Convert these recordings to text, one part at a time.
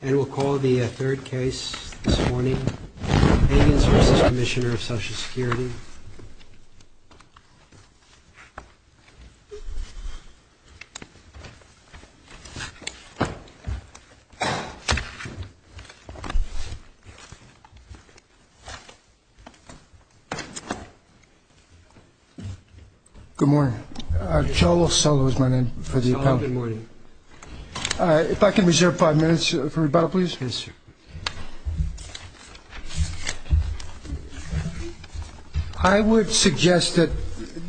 And we'll call the third case this morning, Pagans v. Commissionerof Social Security. Good morning. Cholo Solo is my name. Cholo, good morning. If I can reserve five minutes for rebuttal, please. Yes, sir. I would suggest that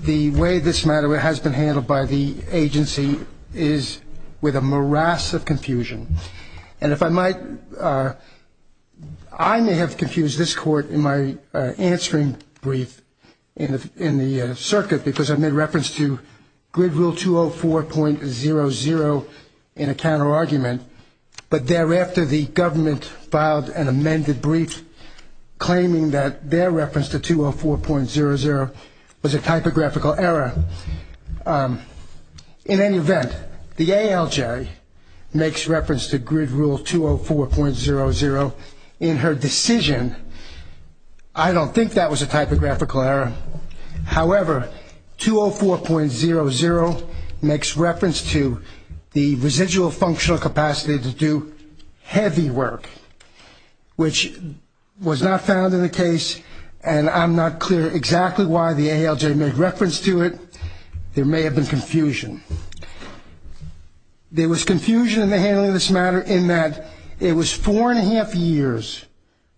the way this matter has been handled by the agency is with a morass of confusion. And if I might, I may have confused this court in my answering brief in the circuit because I made reference to grid rule 204.00 in a counterargument, but thereafter the government filed an amended brief claiming that their reference to 204.00 was a typographical error. In any event, the ALJ makes reference to grid rule 204.00 in her decision. I don't think that was a typographical error. However, 204.00 makes reference to the residual functional capacity to do heavy work, which was not found in the case, and I'm not clear exactly why the ALJ made reference to it. There may have been confusion. There was confusion in the handling of this matter in that it was four and a half years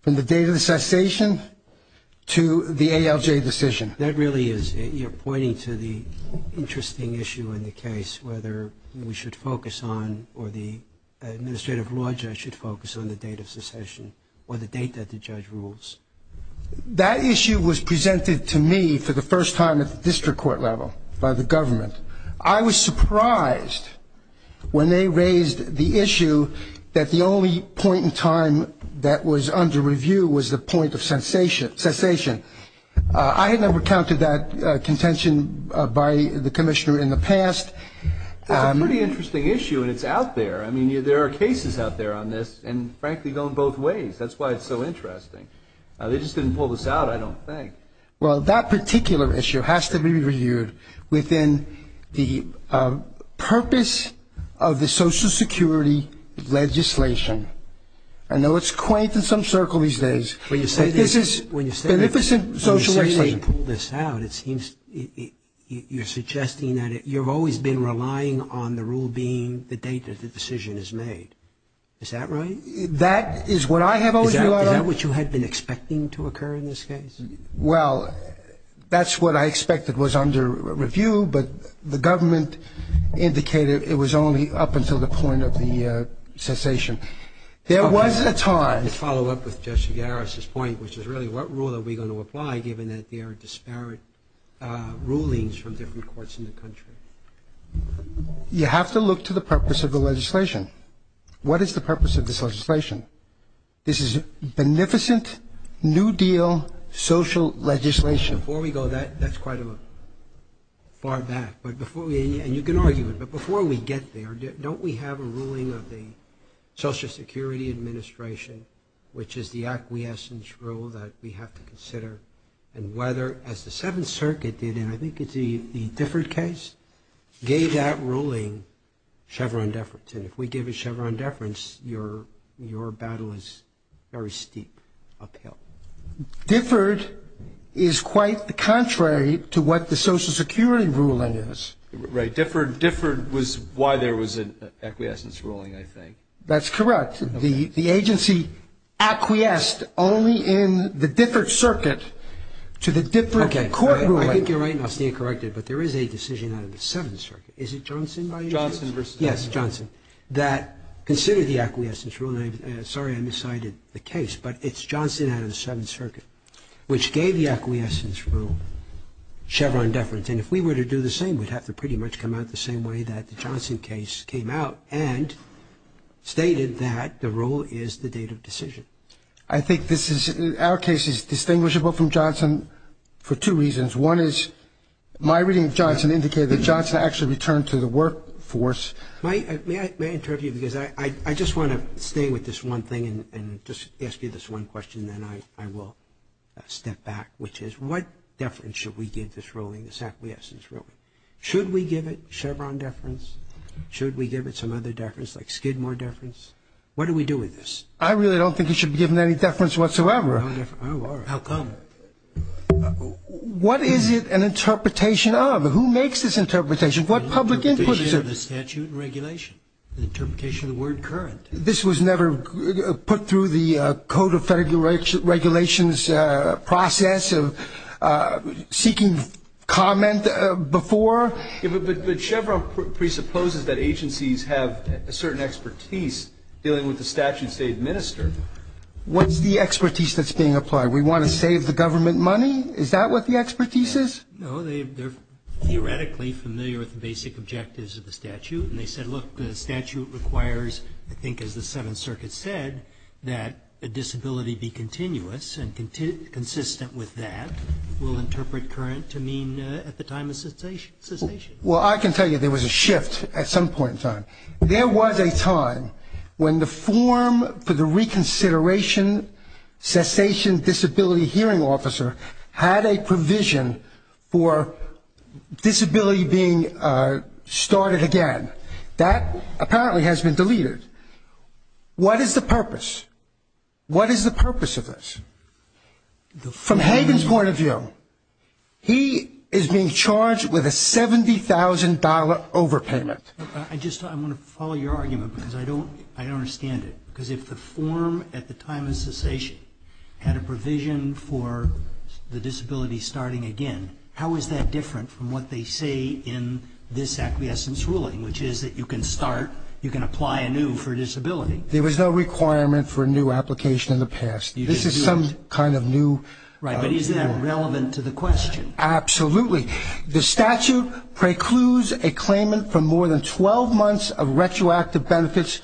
from the date of the cessation to the ALJ decision. That really is. You're pointing to the interesting issue in the case, whether we should focus on or the administrative law judge should focus on the date of secession or the date that the judge rules. That issue was presented to me for the first time at the district court level by the government. I was surprised when they raised the issue that the only point in time that was under review was the point of cessation. I had never counted that contention by the commissioner in the past. It's a pretty interesting issue, and it's out there. I mean, there are cases out there on this and, frankly, go in both ways. That's why it's so interesting. They just didn't pull this out, I don't think. Well, that particular issue has to be reviewed within the purpose of the Social Security legislation. I know it's quaint in some circles these days, but this is beneficent social legislation. You're suggesting that you've always been relying on the rule being the date that the decision is made. Is that right? That is what I have always relied on. Is that what you had been expecting to occur in this case? Well, that's what I expected was under review, but the government indicated it was only up until the point of the cessation. There was a time. Let me follow up with Justice Garis's point, which is really what rule are we going to apply, given that there are disparate rulings from different courts in the country? You have to look to the purpose of the legislation. What is the purpose of this legislation? This is beneficent New Deal social legislation. Before we go, that's quite far back, and you can argue it, but before we get there, don't we have a ruling of the Social Security Administration, which is the acquiescence rule that we have to consider, and whether, as the Seventh Circuit did, and I think it's the Differed case, gave that ruling Chevron deference. And if we give it Chevron deference, your battle is very steep uphill. Differed is quite contrary to what the Social Security ruling is. Right. Differed was why there was an acquiescence ruling, I think. That's correct. The agency acquiesced only in the Differed circuit to the Differed court ruling. Okay. I think you're right, and I'll stand corrected, but there is a decision out of the Seventh Circuit. Is it Johnson v. Johnson? Johnson v. Johnson. Yes, Johnson, that considered the acquiescence rule. And I'm sorry I miscited the case, but it's Johnson out of the Seventh Circuit, which gave the acquiescence rule Chevron deference. And if we were to do the same, we'd have to pretty much come out the same way that the Johnson case came out and stated that the rule is the date of decision. I think this is – our case is distinguishable from Johnson for two reasons. One is my reading of Johnson indicated that Johnson actually returned to the workforce. May I interrupt you? Because I just want to stay with this one thing and just ask you this one question, and then I will step back, which is what deference should we give this ruling, this acquiescence ruling? Should we give it Chevron deference? Should we give it some other deference like Skidmore deference? What do we do with this? I really don't think it should be given any deference whatsoever. Oh, all right. How come? What is it an interpretation of? Who makes this interpretation? What public input is it? The statute and regulation. The interpretation of the word current. This was never put through the Code of Federal Regulations process of seeking comment before? But Chevron presupposes that agencies have a certain expertise dealing with the statutes they administer. What's the expertise that's being applied? We want to save the government money? Is that what the expertise is? No, they're theoretically familiar with the basic objectives of the statute, and they said, look, the statute requires, I think as the Seventh Circuit said, that a disability be continuous and consistent with that. We'll interpret current to mean at the time of cessation. Well, I can tell you there was a shift at some point in time. There was a time when the form for the reconsideration, cessation disability hearing officer had a provision for disability being started again. That apparently has been deleted. What is the purpose? What is the purpose of this? From Hagan's point of view, he is being charged with a $70,000 overpayment. I just want to follow your argument because I don't understand it. Because if the form at the time of cessation had a provision for the disability starting again, how is that different from what they say in this acquiescence ruling, which is that you can start, you can apply anew for a disability? There was no requirement for a new application in the past. This is some kind of new. Right, but isn't that relevant to the question? Absolutely. The statute precludes a claimant from more than 12 months of retroactive benefits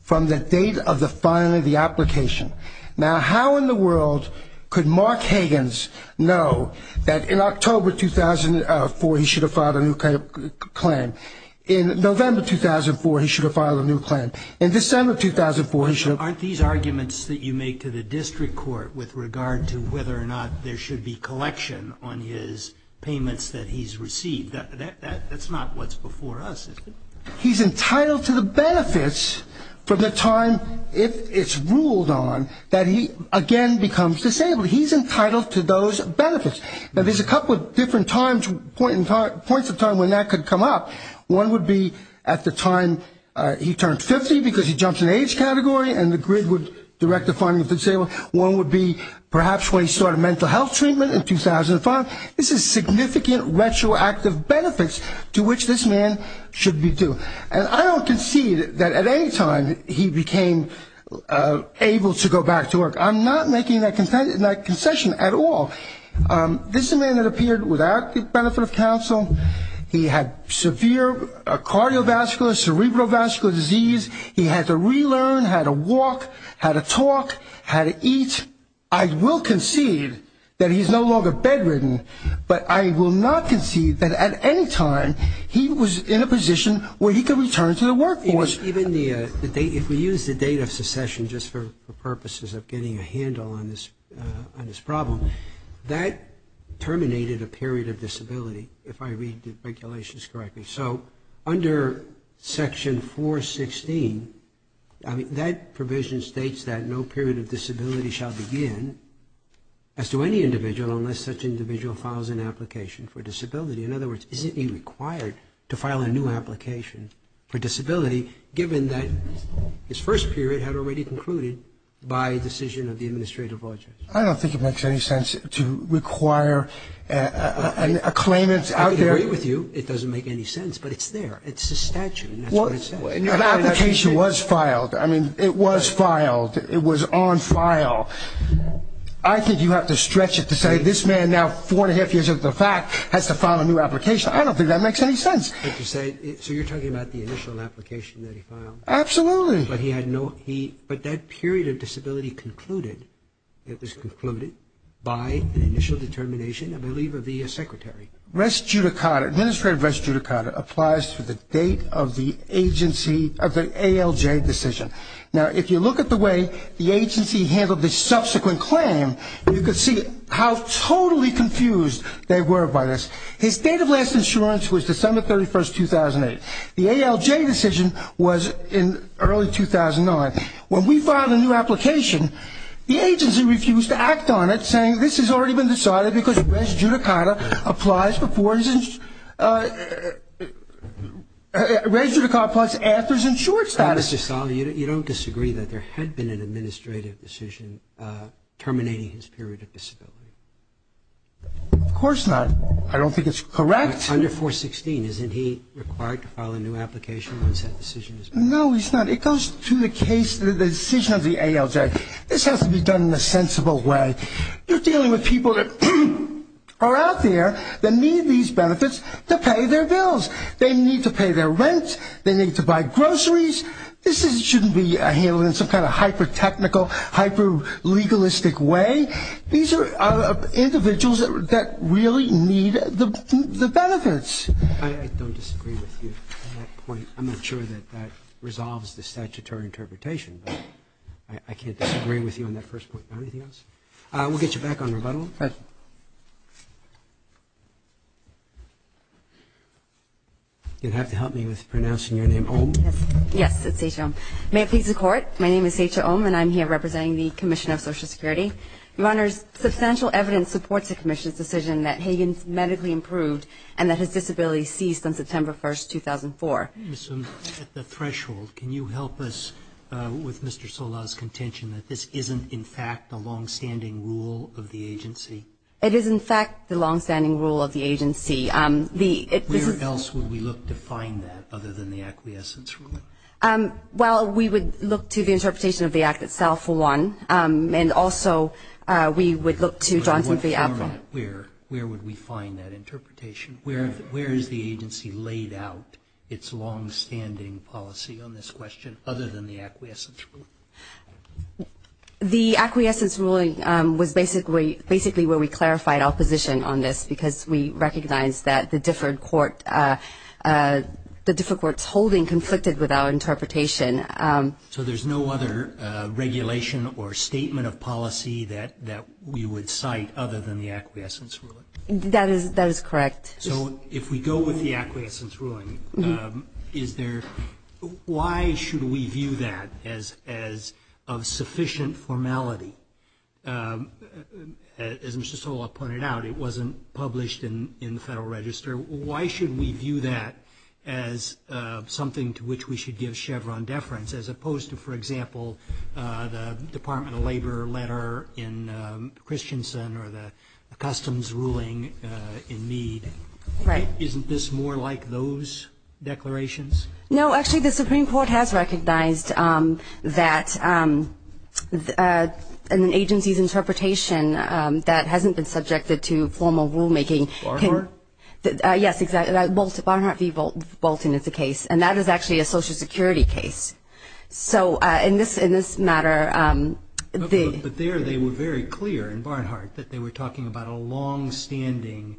from the date of the filing of the application. Now, how in the world could Mark Hagan's know that in October 2004 he should have filed a new claim? In November 2004 he should have filed a new claim. In December 2004 he should have. Aren't these arguments that you make to the district court with regard to whether or not there should be collection on his payments that he's received? That's not what's before us. He's entitled to the benefits from the time, if it's ruled on, that he again becomes disabled. He's entitled to those benefits. Now, there's a couple of different points of time when that could come up. One would be at the time he turns 50 because he jumps in the age category and the grid would direct the filing of the disability. One would be perhaps when he started mental health treatment in 2005. This is significant retroactive benefits to which this man should be due. And I don't concede that at any time he became able to go back to work. I'm not making that concession at all. This is a man that appeared without the benefit of counsel. He had severe cardiovascular, cerebrovascular disease. He had to relearn how to walk, how to talk, how to eat. I will concede that he's no longer bedridden, but I will not concede that at any time he was in a position where he could return to the workforce. Even if we use the date of secession just for purposes of getting a handle on this problem, that terminated a period of disability, if I read the regulations correctly. So under section 416, that provision states that no period of disability shall begin as to any individual unless such individual files an application for disability. In other words, isn't he required to file a new application for disability, given that his first period had already concluded by decision of the Administrative Office? I don't think it makes any sense to require a claimant out there. I agree with you, it doesn't make any sense, but it's there. It's a statute, and that's what it says. An application was filed. I mean, it was filed. It was on file. I think you have to stretch it to say this man, now four and a half years into the fact, has to file a new application. I don't think that makes any sense. So you're talking about the initial application that he filed? Absolutely. But that period of disability concluded, it was concluded, by an initial determination, I believe, of the Secretary. Res judicata, administrative res judicata, applies to the date of the agency, of the ALJ decision. Now, if you look at the way the agency handled this subsequent claim, you can see how totally confused they were by this. His date of last insurance was December 31, 2008. The ALJ decision was in early 2009. When we filed a new application, the agency refused to act on it, saying this has already been decided because res judicata applies before insurance. Res judicata applies after his insurance status. Mr. Stahl, you don't disagree that there had been an administrative decision terminating his period of disability? Of course not. I don't think it's correct. Under 416, isn't he required to file a new application once that decision is made? No, he's not. It goes to the case, the decision of the ALJ. This has to be done in a sensible way. You're dealing with people that are out there that need these benefits to pay their bills. They need to pay their rent. They need to buy groceries. This shouldn't be handled in some kind of hyper-technical, hyper-legalistic way. These are individuals that really need the benefits. I don't disagree with you on that point. I'm not sure that that resolves the statutory interpretation, but I can't disagree with you on that first point. Anything else? We'll get you back on rebuttal. You'll have to help me with pronouncing your name. Yes, it's Secha Oum. May it please the Court, my name is Secha Oum, and I'm here representing the Commission of Social Security. Your Honor, substantial evidence supports the Commission's decision that Hagen's medically improved and that his disability ceased on September 1, 2004. Ms. Oum, at the threshold, can you help us with Mr. Sola's contention that this isn't, in fact, a longstanding rule of the agency? It is, in fact, the longstanding rule of the agency. Where else would we look to find that other than the acquiescence ruling? Well, we would look to the interpretation of the Act itself, for one, and also we would look to Johnson v. Alfred. All right, where would we find that interpretation? Where has the agency laid out its longstanding policy on this question other than the acquiescence ruling? The acquiescence ruling was basically where we clarified our position on this because we recognized that the differed court's holding conflicted with our interpretation. So there's no other regulation or statement of policy that we would cite other than the acquiescence ruling? That is correct. So if we go with the acquiescence ruling, why should we view that as of sufficient formality? As Mr. Sola pointed out, it wasn't published in the Federal Register. Why should we view that as something to which we should give Chevron deference as opposed to, for example, the Department of Labor letter in Christensen or the customs ruling in Meade? Right. Isn't this more like those declarations? No. Actually, the Supreme Court has recognized that an agency's interpretation Yes, exactly. Barnhart v. Bolton is the case. And that is actually a Social Security case. So in this matter, the But there they were very clear in Barnhart that they were talking about a longstanding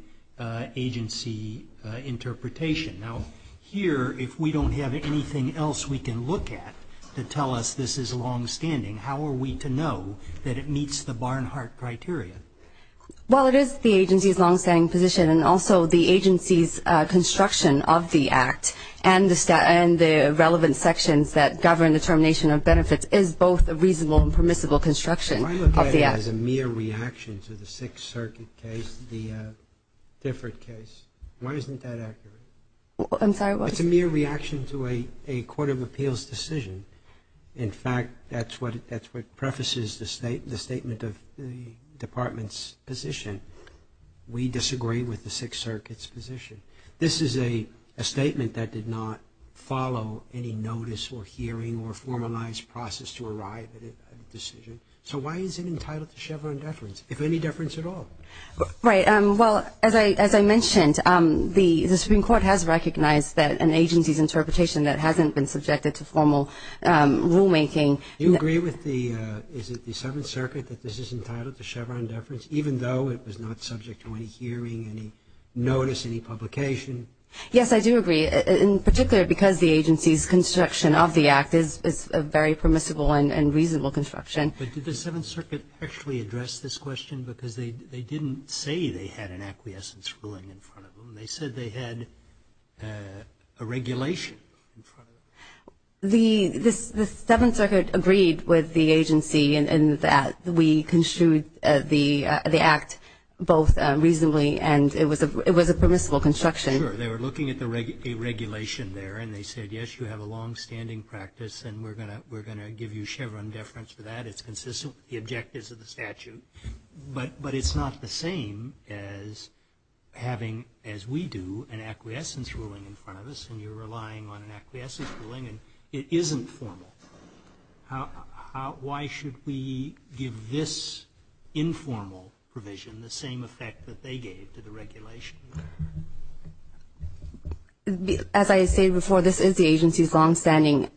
agency interpretation. Now, here, if we don't have anything else we can look at to tell us this is longstanding, how are we to know that it meets the Barnhart criteria? Well, it is the agency's longstanding position, and also the agency's construction of the Act and the relevant sections that govern the termination of benefits is both a reasonable and permissible construction of the Act. Why look at it as a mere reaction to the Sixth Circuit case, the Differet case? Why isn't that accurate? I'm sorry. It's a mere reaction to a court of appeals decision. In fact, that's what prefaces the statement of the Department's position. We disagree with the Sixth Circuit's position. This is a statement that did not follow any notice or hearing or formalized process to arrive at a decision. So why is it entitled to Chevron deference, if any deference at all? Right. Well, as I mentioned, the Supreme Court has recognized that an agency's interpretation that hasn't been subjected to formal rulemaking. Do you agree with the – is it the Seventh Circuit that this is entitled to Chevron deference, even though it was not subject to any hearing, any notice, any publication? Yes, I do agree, in particular because the agency's construction of the Act is a very permissible and reasonable construction. But did the Seventh Circuit actually address this question? Because they didn't say they had an acquiescence ruling in front of them. They said they had a regulation in front of them. The – the Seventh Circuit agreed with the agency in that we construed the Act both reasonably and it was a permissible construction. Sure. They were looking at the regulation there, and they said, yes, you have a longstanding practice, and we're going to give you Chevron deference for that. It's consistent with the objectives of the statute. But it's not the same as having, as we do, an acquiescence ruling in front of us, and you're relying on an acquiescence ruling, and it isn't formal. Why should we give this informal provision the same effect that they gave to the regulation? As I say before, this is the agency's longstanding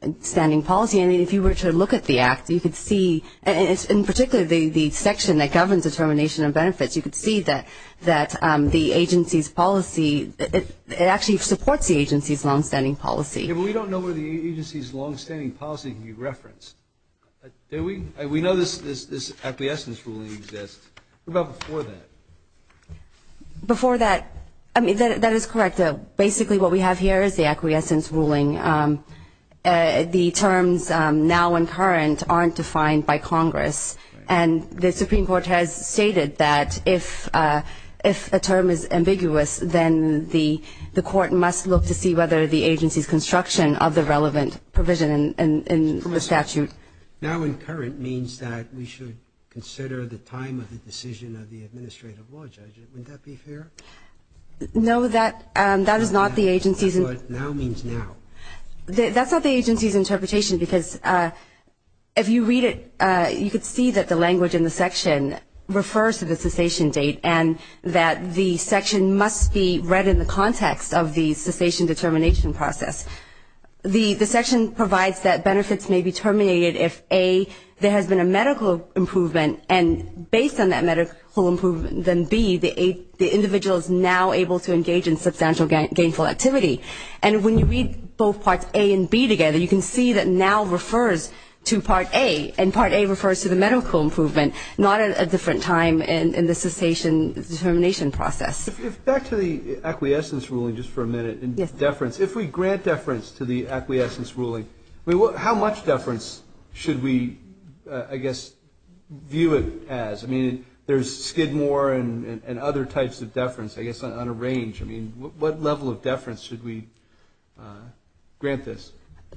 policy. If you were to look at the Act, you could see, in particular the section that governs determination of benefits, you could see that the agency's policy, it actually supports the agency's longstanding policy. Yeah, but we don't know where the agency's longstanding policy can be referenced. We know this acquiescence ruling exists. What about before that? Before that, I mean, that is correct. Basically what we have here is the acquiescence ruling. The terms now and current aren't defined by Congress. And the Supreme Court has stated that if a term is ambiguous, then the Court must look to see whether the agency's construction of the relevant provision in the statute. Now and current means that we should consider the time of the decision of the administrative law judge. Wouldn't that be fair? No, that is not the agency's. Now means now. That's not the agency's interpretation because if you read it, you could see that the language in the section refers to the cessation date and that the section must be read in the context of the cessation determination process. The section provides that benefits may be terminated if, A, there has been a medical improvement, and based on that medical improvement, then, B, the individual is now able to engage in substantial gainful activity. And when you read both Parts A and B together, you can see that now refers to Part A, and Part A refers to the medical improvement, not a different time in the cessation determination process. Back to the acquiescence ruling just for a minute and deference. If we grant deference to the acquiescence ruling, how much deference should we, I guess, view it as? I mean, there's Skidmore and other types of deference, I guess, on a range. I mean, what level of deference should we grant this?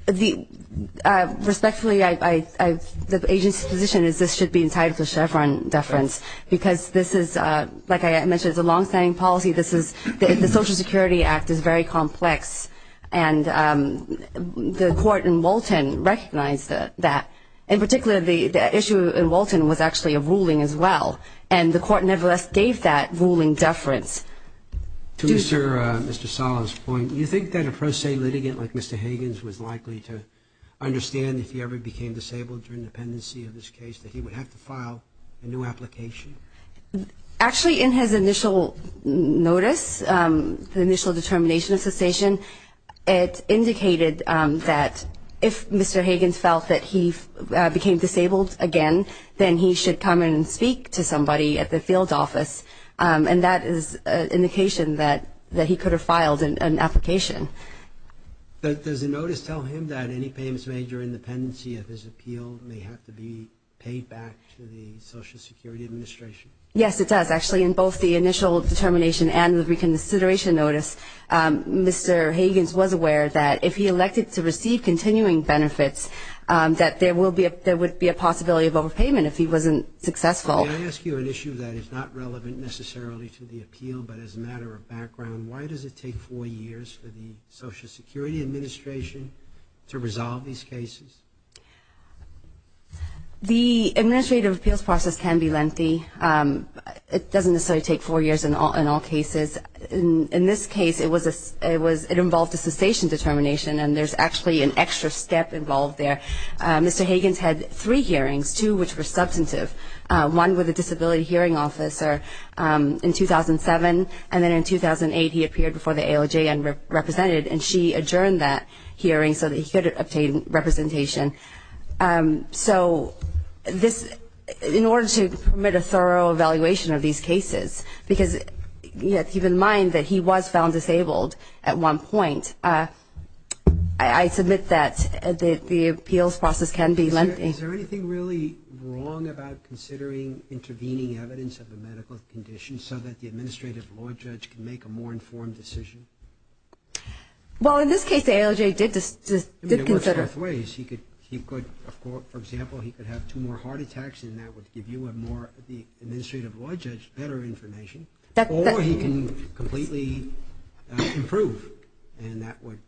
Respectfully, the agency's position is this should be entitled to Chevron deference because this is, like I mentioned, it's a long-standing policy. The Social Security Act is very complex, and the court in Walton recognized that. In particular, the issue in Walton was actually a ruling as well, and the court nevertheless gave that ruling deference. To Mr. Sala's point, do you think that a pro se litigant like Mr. Hagans was likely to understand if he ever became disabled during the pendency of this case that he would have to file a new application? Actually, in his initial notice, the initial determination of cessation, it indicated that if Mr. Hagans felt that he became disabled again, then he should come and speak to somebody at the field office, and that is an indication that he could have filed an application. Does the notice tell him that any payments made during the pendency of his appeal may have to be paid back to the Social Security Administration? Yes, it does. Actually, in both the initial determination and the reconsideration notice, Mr. Hagans was aware that if he elected to receive continuing benefits, that there would be a possibility of overpayment if he wasn't successful. May I ask you an issue that is not relevant necessarily to the appeal, but as a matter of background, why does it take four years for the Social Security Administration to resolve these cases? The administrative appeals process can be lengthy. It doesn't necessarily take four years in all cases. In this case, it involved a cessation determination, and there's actually an extra step involved there. Mr. Hagans had three hearings, two which were substantive. One with a disability hearing officer in 2007, and then in 2008 he appeared before the ALJ and represented, and she adjourned that hearing so that he could obtain representation. So in order to permit a thorough evaluation of these cases, because you have to keep in mind that he was found disabled at one point, I submit that the appeals process can be lengthy. Is there anything really wrong about considering intervening evidence of a medical condition so that the administrative law judge can make a more informed decision? Well, in this case, the ALJ did consider it. It works both ways. He could, for example, he could have two more heart attacks, and that would give you a more administrative law judge better information, or he can completely improve, and that would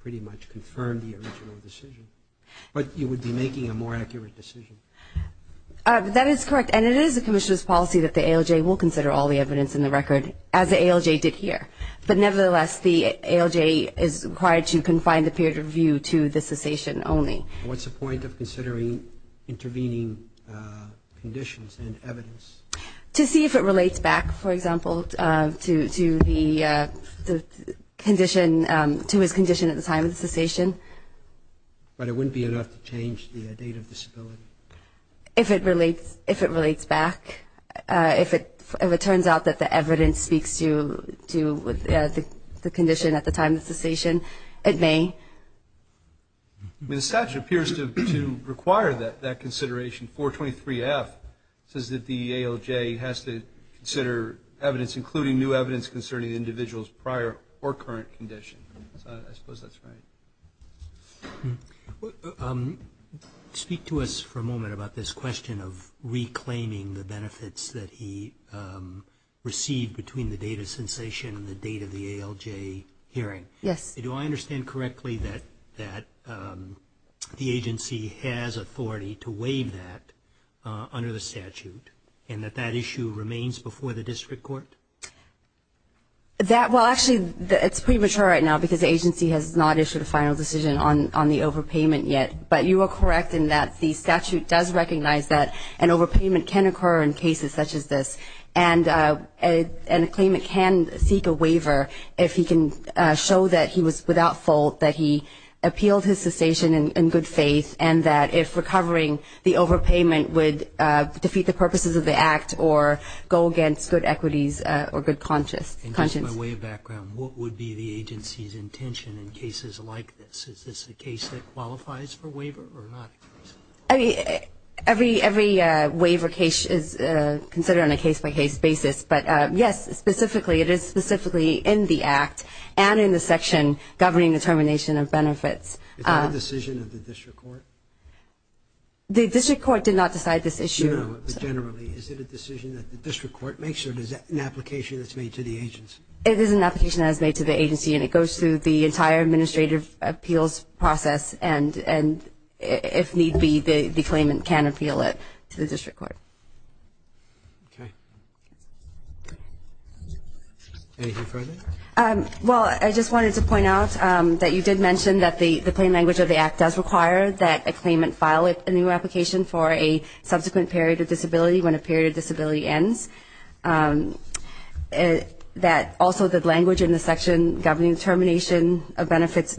pretty much confirm the original decision. But you would be making a more accurate decision. That is correct, and it is the commissioner's policy that the ALJ will consider all the evidence in the record, as the ALJ did here. But nevertheless, the ALJ is required to confine the period of review to the cessation only. What's the point of considering intervening conditions and evidence? To see if it relates back, for example, to the condition, to his condition at the time of the cessation. But it wouldn't be enough to change the date of disability. If it relates back, if it turns out that the evidence speaks to the condition at the time of the cessation, it may. The statute appears to require that consideration. 423F says that the ALJ has to consider evidence, including new evidence concerning the individual's prior or current condition. I suppose that's right. Speak to us for a moment about this question of reclaiming the benefits that he received between the date of cessation and the date of the ALJ hearing. Yes. Do I understand correctly that the agency has authority to waive that under the statute and that that issue remains before the district court? Well, actually, it's premature right now because the agency has not issued a final decision on the overpayment yet. But you are correct in that the statute does recognize that an overpayment can occur in cases such as this and a claimant can seek a waiver if he can show that he was without fault, that he appealed his cessation in good faith, and that if recovering the overpayment would defeat the purposes of the act or go against good equities or good conscience. And just by way of background, what would be the agency's intention in cases like this? Is this a case that qualifies for waiver or not? I mean, every waiver case is considered on a case-by-case basis. But, yes, specifically, it is specifically in the act and in the section governing the termination of benefits. Is that a decision of the district court? The district court did not decide this issue. No, but generally, is it a decision that the district court makes or is that an application that's made to the agency? It is an application that is made to the agency, and it goes through the entire administrative appeals process. And if need be, the claimant can appeal it to the district court. Okay. Anything further? Well, I just wanted to point out that you did mention that the plain language of the act does require that a claimant file a new application for a subsequent period of disability when a period of disability ends, which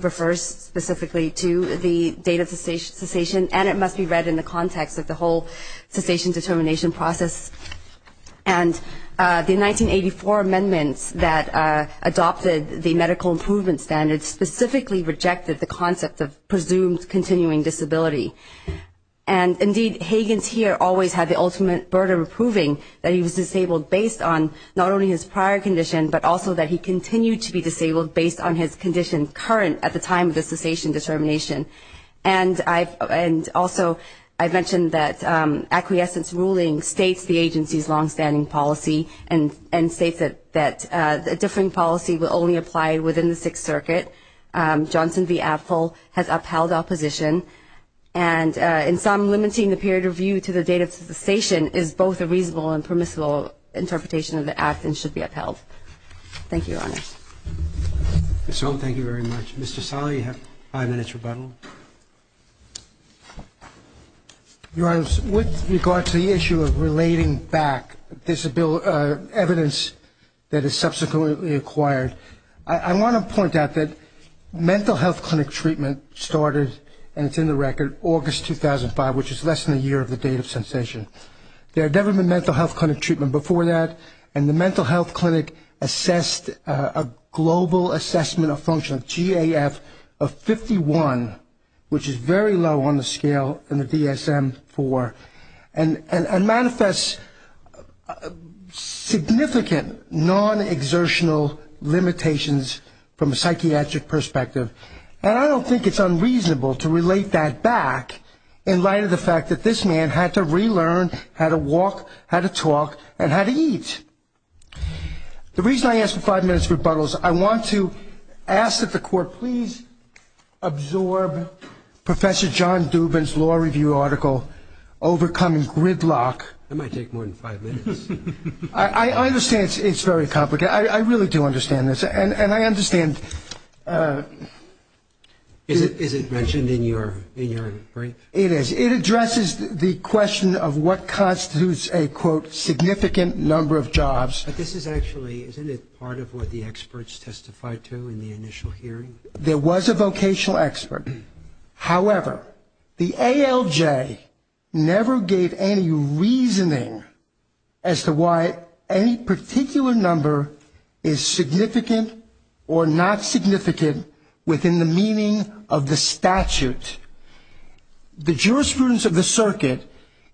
refers specifically to the date of cessation, and it must be read in the context of the whole cessation determination process. And the 1984 amendments that adopted the medical improvement standards specifically rejected the concept of presumed continuing disability. And, indeed, Hagans here always had the ultimate burden of proving that he was disabled based on not only his prior condition, but also that he continued to be disabled based on his condition current at the time of the cessation determination. And also I mentioned that acquiescence ruling states the agency's longstanding policy and states that a different policy will only apply within the Sixth Circuit. Johnson v. Apfel has upheld opposition. And in sum, limiting the period of view to the date of cessation is both a reasonable and permissible interpretation of the act and should be upheld. Thank you, Your Honors. Ms. Sloan, thank you very much. Mr. Saleh, you have five minutes rebuttal. Your Honors, with regard to the issue of relating back evidence that is subsequently acquired, I want to point out that mental health clinic treatment started, and it's in the record, August 2005, which is less than a year of the date of cessation. There had never been mental health clinic treatment before that, and the mental health clinic assessed a global assessment of functional GAF of 51, which is very low on the scale in the DSM-IV, and manifests significant non-exertional limitations from a psychiatric perspective. And I don't think it's unreasonable to relate that back in light of the fact that this man had to relearn how to walk, how to talk, and how to eat. The reason I ask for five minutes rebuttals, I want to ask that the Court please absorb Professor John Dubin's law review article, Overcoming Gridlock. That might take more than five minutes. I understand it's very complicated. I really do understand this, and I understand. Is it mentioned in your brief? It is. It addresses the question of what constitutes a, quote, significant number of jobs. But this is actually, isn't it part of what the experts testified to in the initial hearing? There was a vocational expert. However, the ALJ never gave any reasoning as to why any particular number is significant or not significant within the meaning of the statute. The jurisprudence of the circuit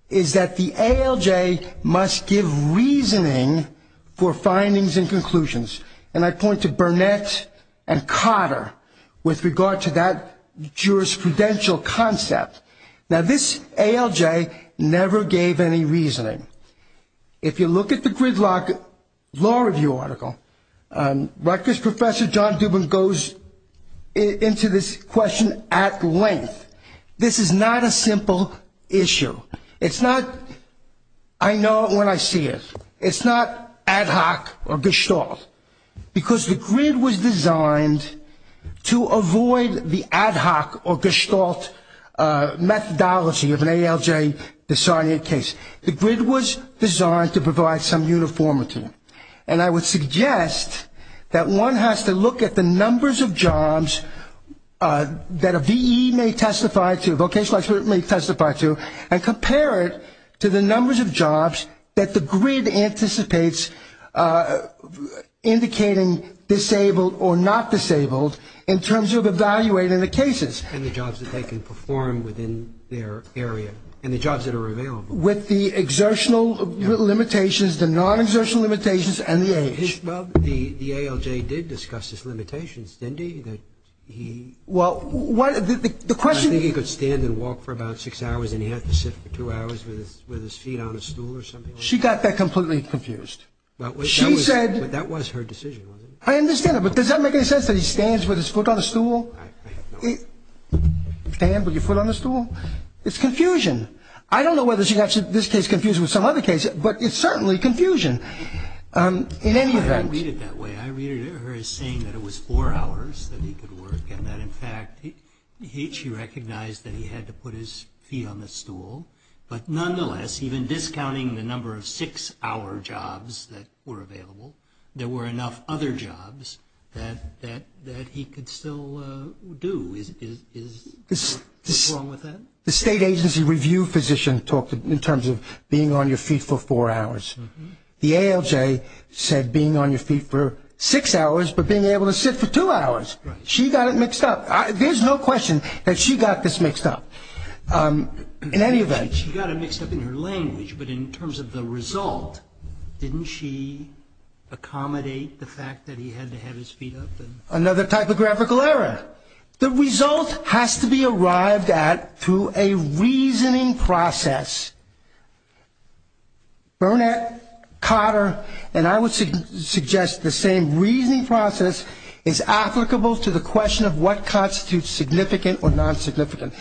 is that the ALJ must give reasoning for findings and conclusions. And I point to Burnett and Cotter with regard to that jurisprudential concept. Now, this ALJ never gave any reasoning. If you look at the gridlock law review article, like this Professor John Dubin goes into this question at length. This is not a simple issue. It's not, I know it when I see it. It's not ad hoc or gestalt because the grid was designed to avoid the ad hoc or gestalt methodology of an ALJ disarming case. The grid was designed to provide some uniformity. And I would suggest that one has to look at the numbers of jobs that a VE may testify to, a vocational expert may testify to, and compare it to the numbers of jobs that the grid anticipates indicating disabled or not disabled in terms of evaluating the cases. And the jobs that they can perform within their area. And the jobs that are available. With the exertional limitations, the non-exertional limitations and the age. Well, the ALJ did discuss its limitations, didn't he? Well, the question... I think he could stand and walk for about six hours and he had to sit for two hours with his feet on a stool or something like that. She got that completely confused. She said... But that was her decision, wasn't it? I understand that, but does that make any sense that he stands with his foot on a stool? Stand with your foot on a stool? It's confusion. I don't know whether she got this case confused with some other case, but it's certainly confusion. In any event... I read it that way. I read her as saying that it was four hours that he could work and that, in fact, she recognized that he had to put his feet on the stool. But nonetheless, even discounting the number of six-hour jobs that were available, there were enough other jobs that he could still do. Is there something wrong with that? The state agency review physician talked in terms of being on your feet for four hours. The ALJ said being on your feet for six hours but being able to sit for two hours. She got it mixed up. There's no question that she got this mixed up. In any event... She got it mixed up in her language, but in terms of the result, didn't she accommodate the fact that he had to have his feet up? Another typographical error. The result has to be arrived at through a reasoning process. Burnett, Cotter, and I would suggest the same reasoning process is applicable to the question of what constitutes significant or non-significant.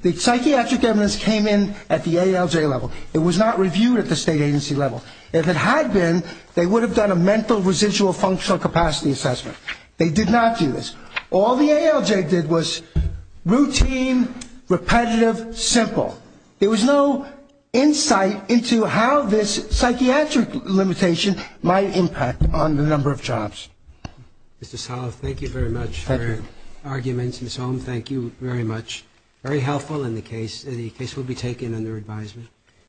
The psychiatric evidence came in at the ALJ level. It was not reviewed at the state agency level. If it had been, they would have done a mental residual functional capacity assessment. They did not do this. All the ALJ did was routine, repetitive, simple. There was no insight into how this psychiatric limitation might impact on the number of jobs. Mr. Salove, thank you very much for your arguments. Ms. Holm, thank you very much. Very helpful, and the case will be taken under advisement.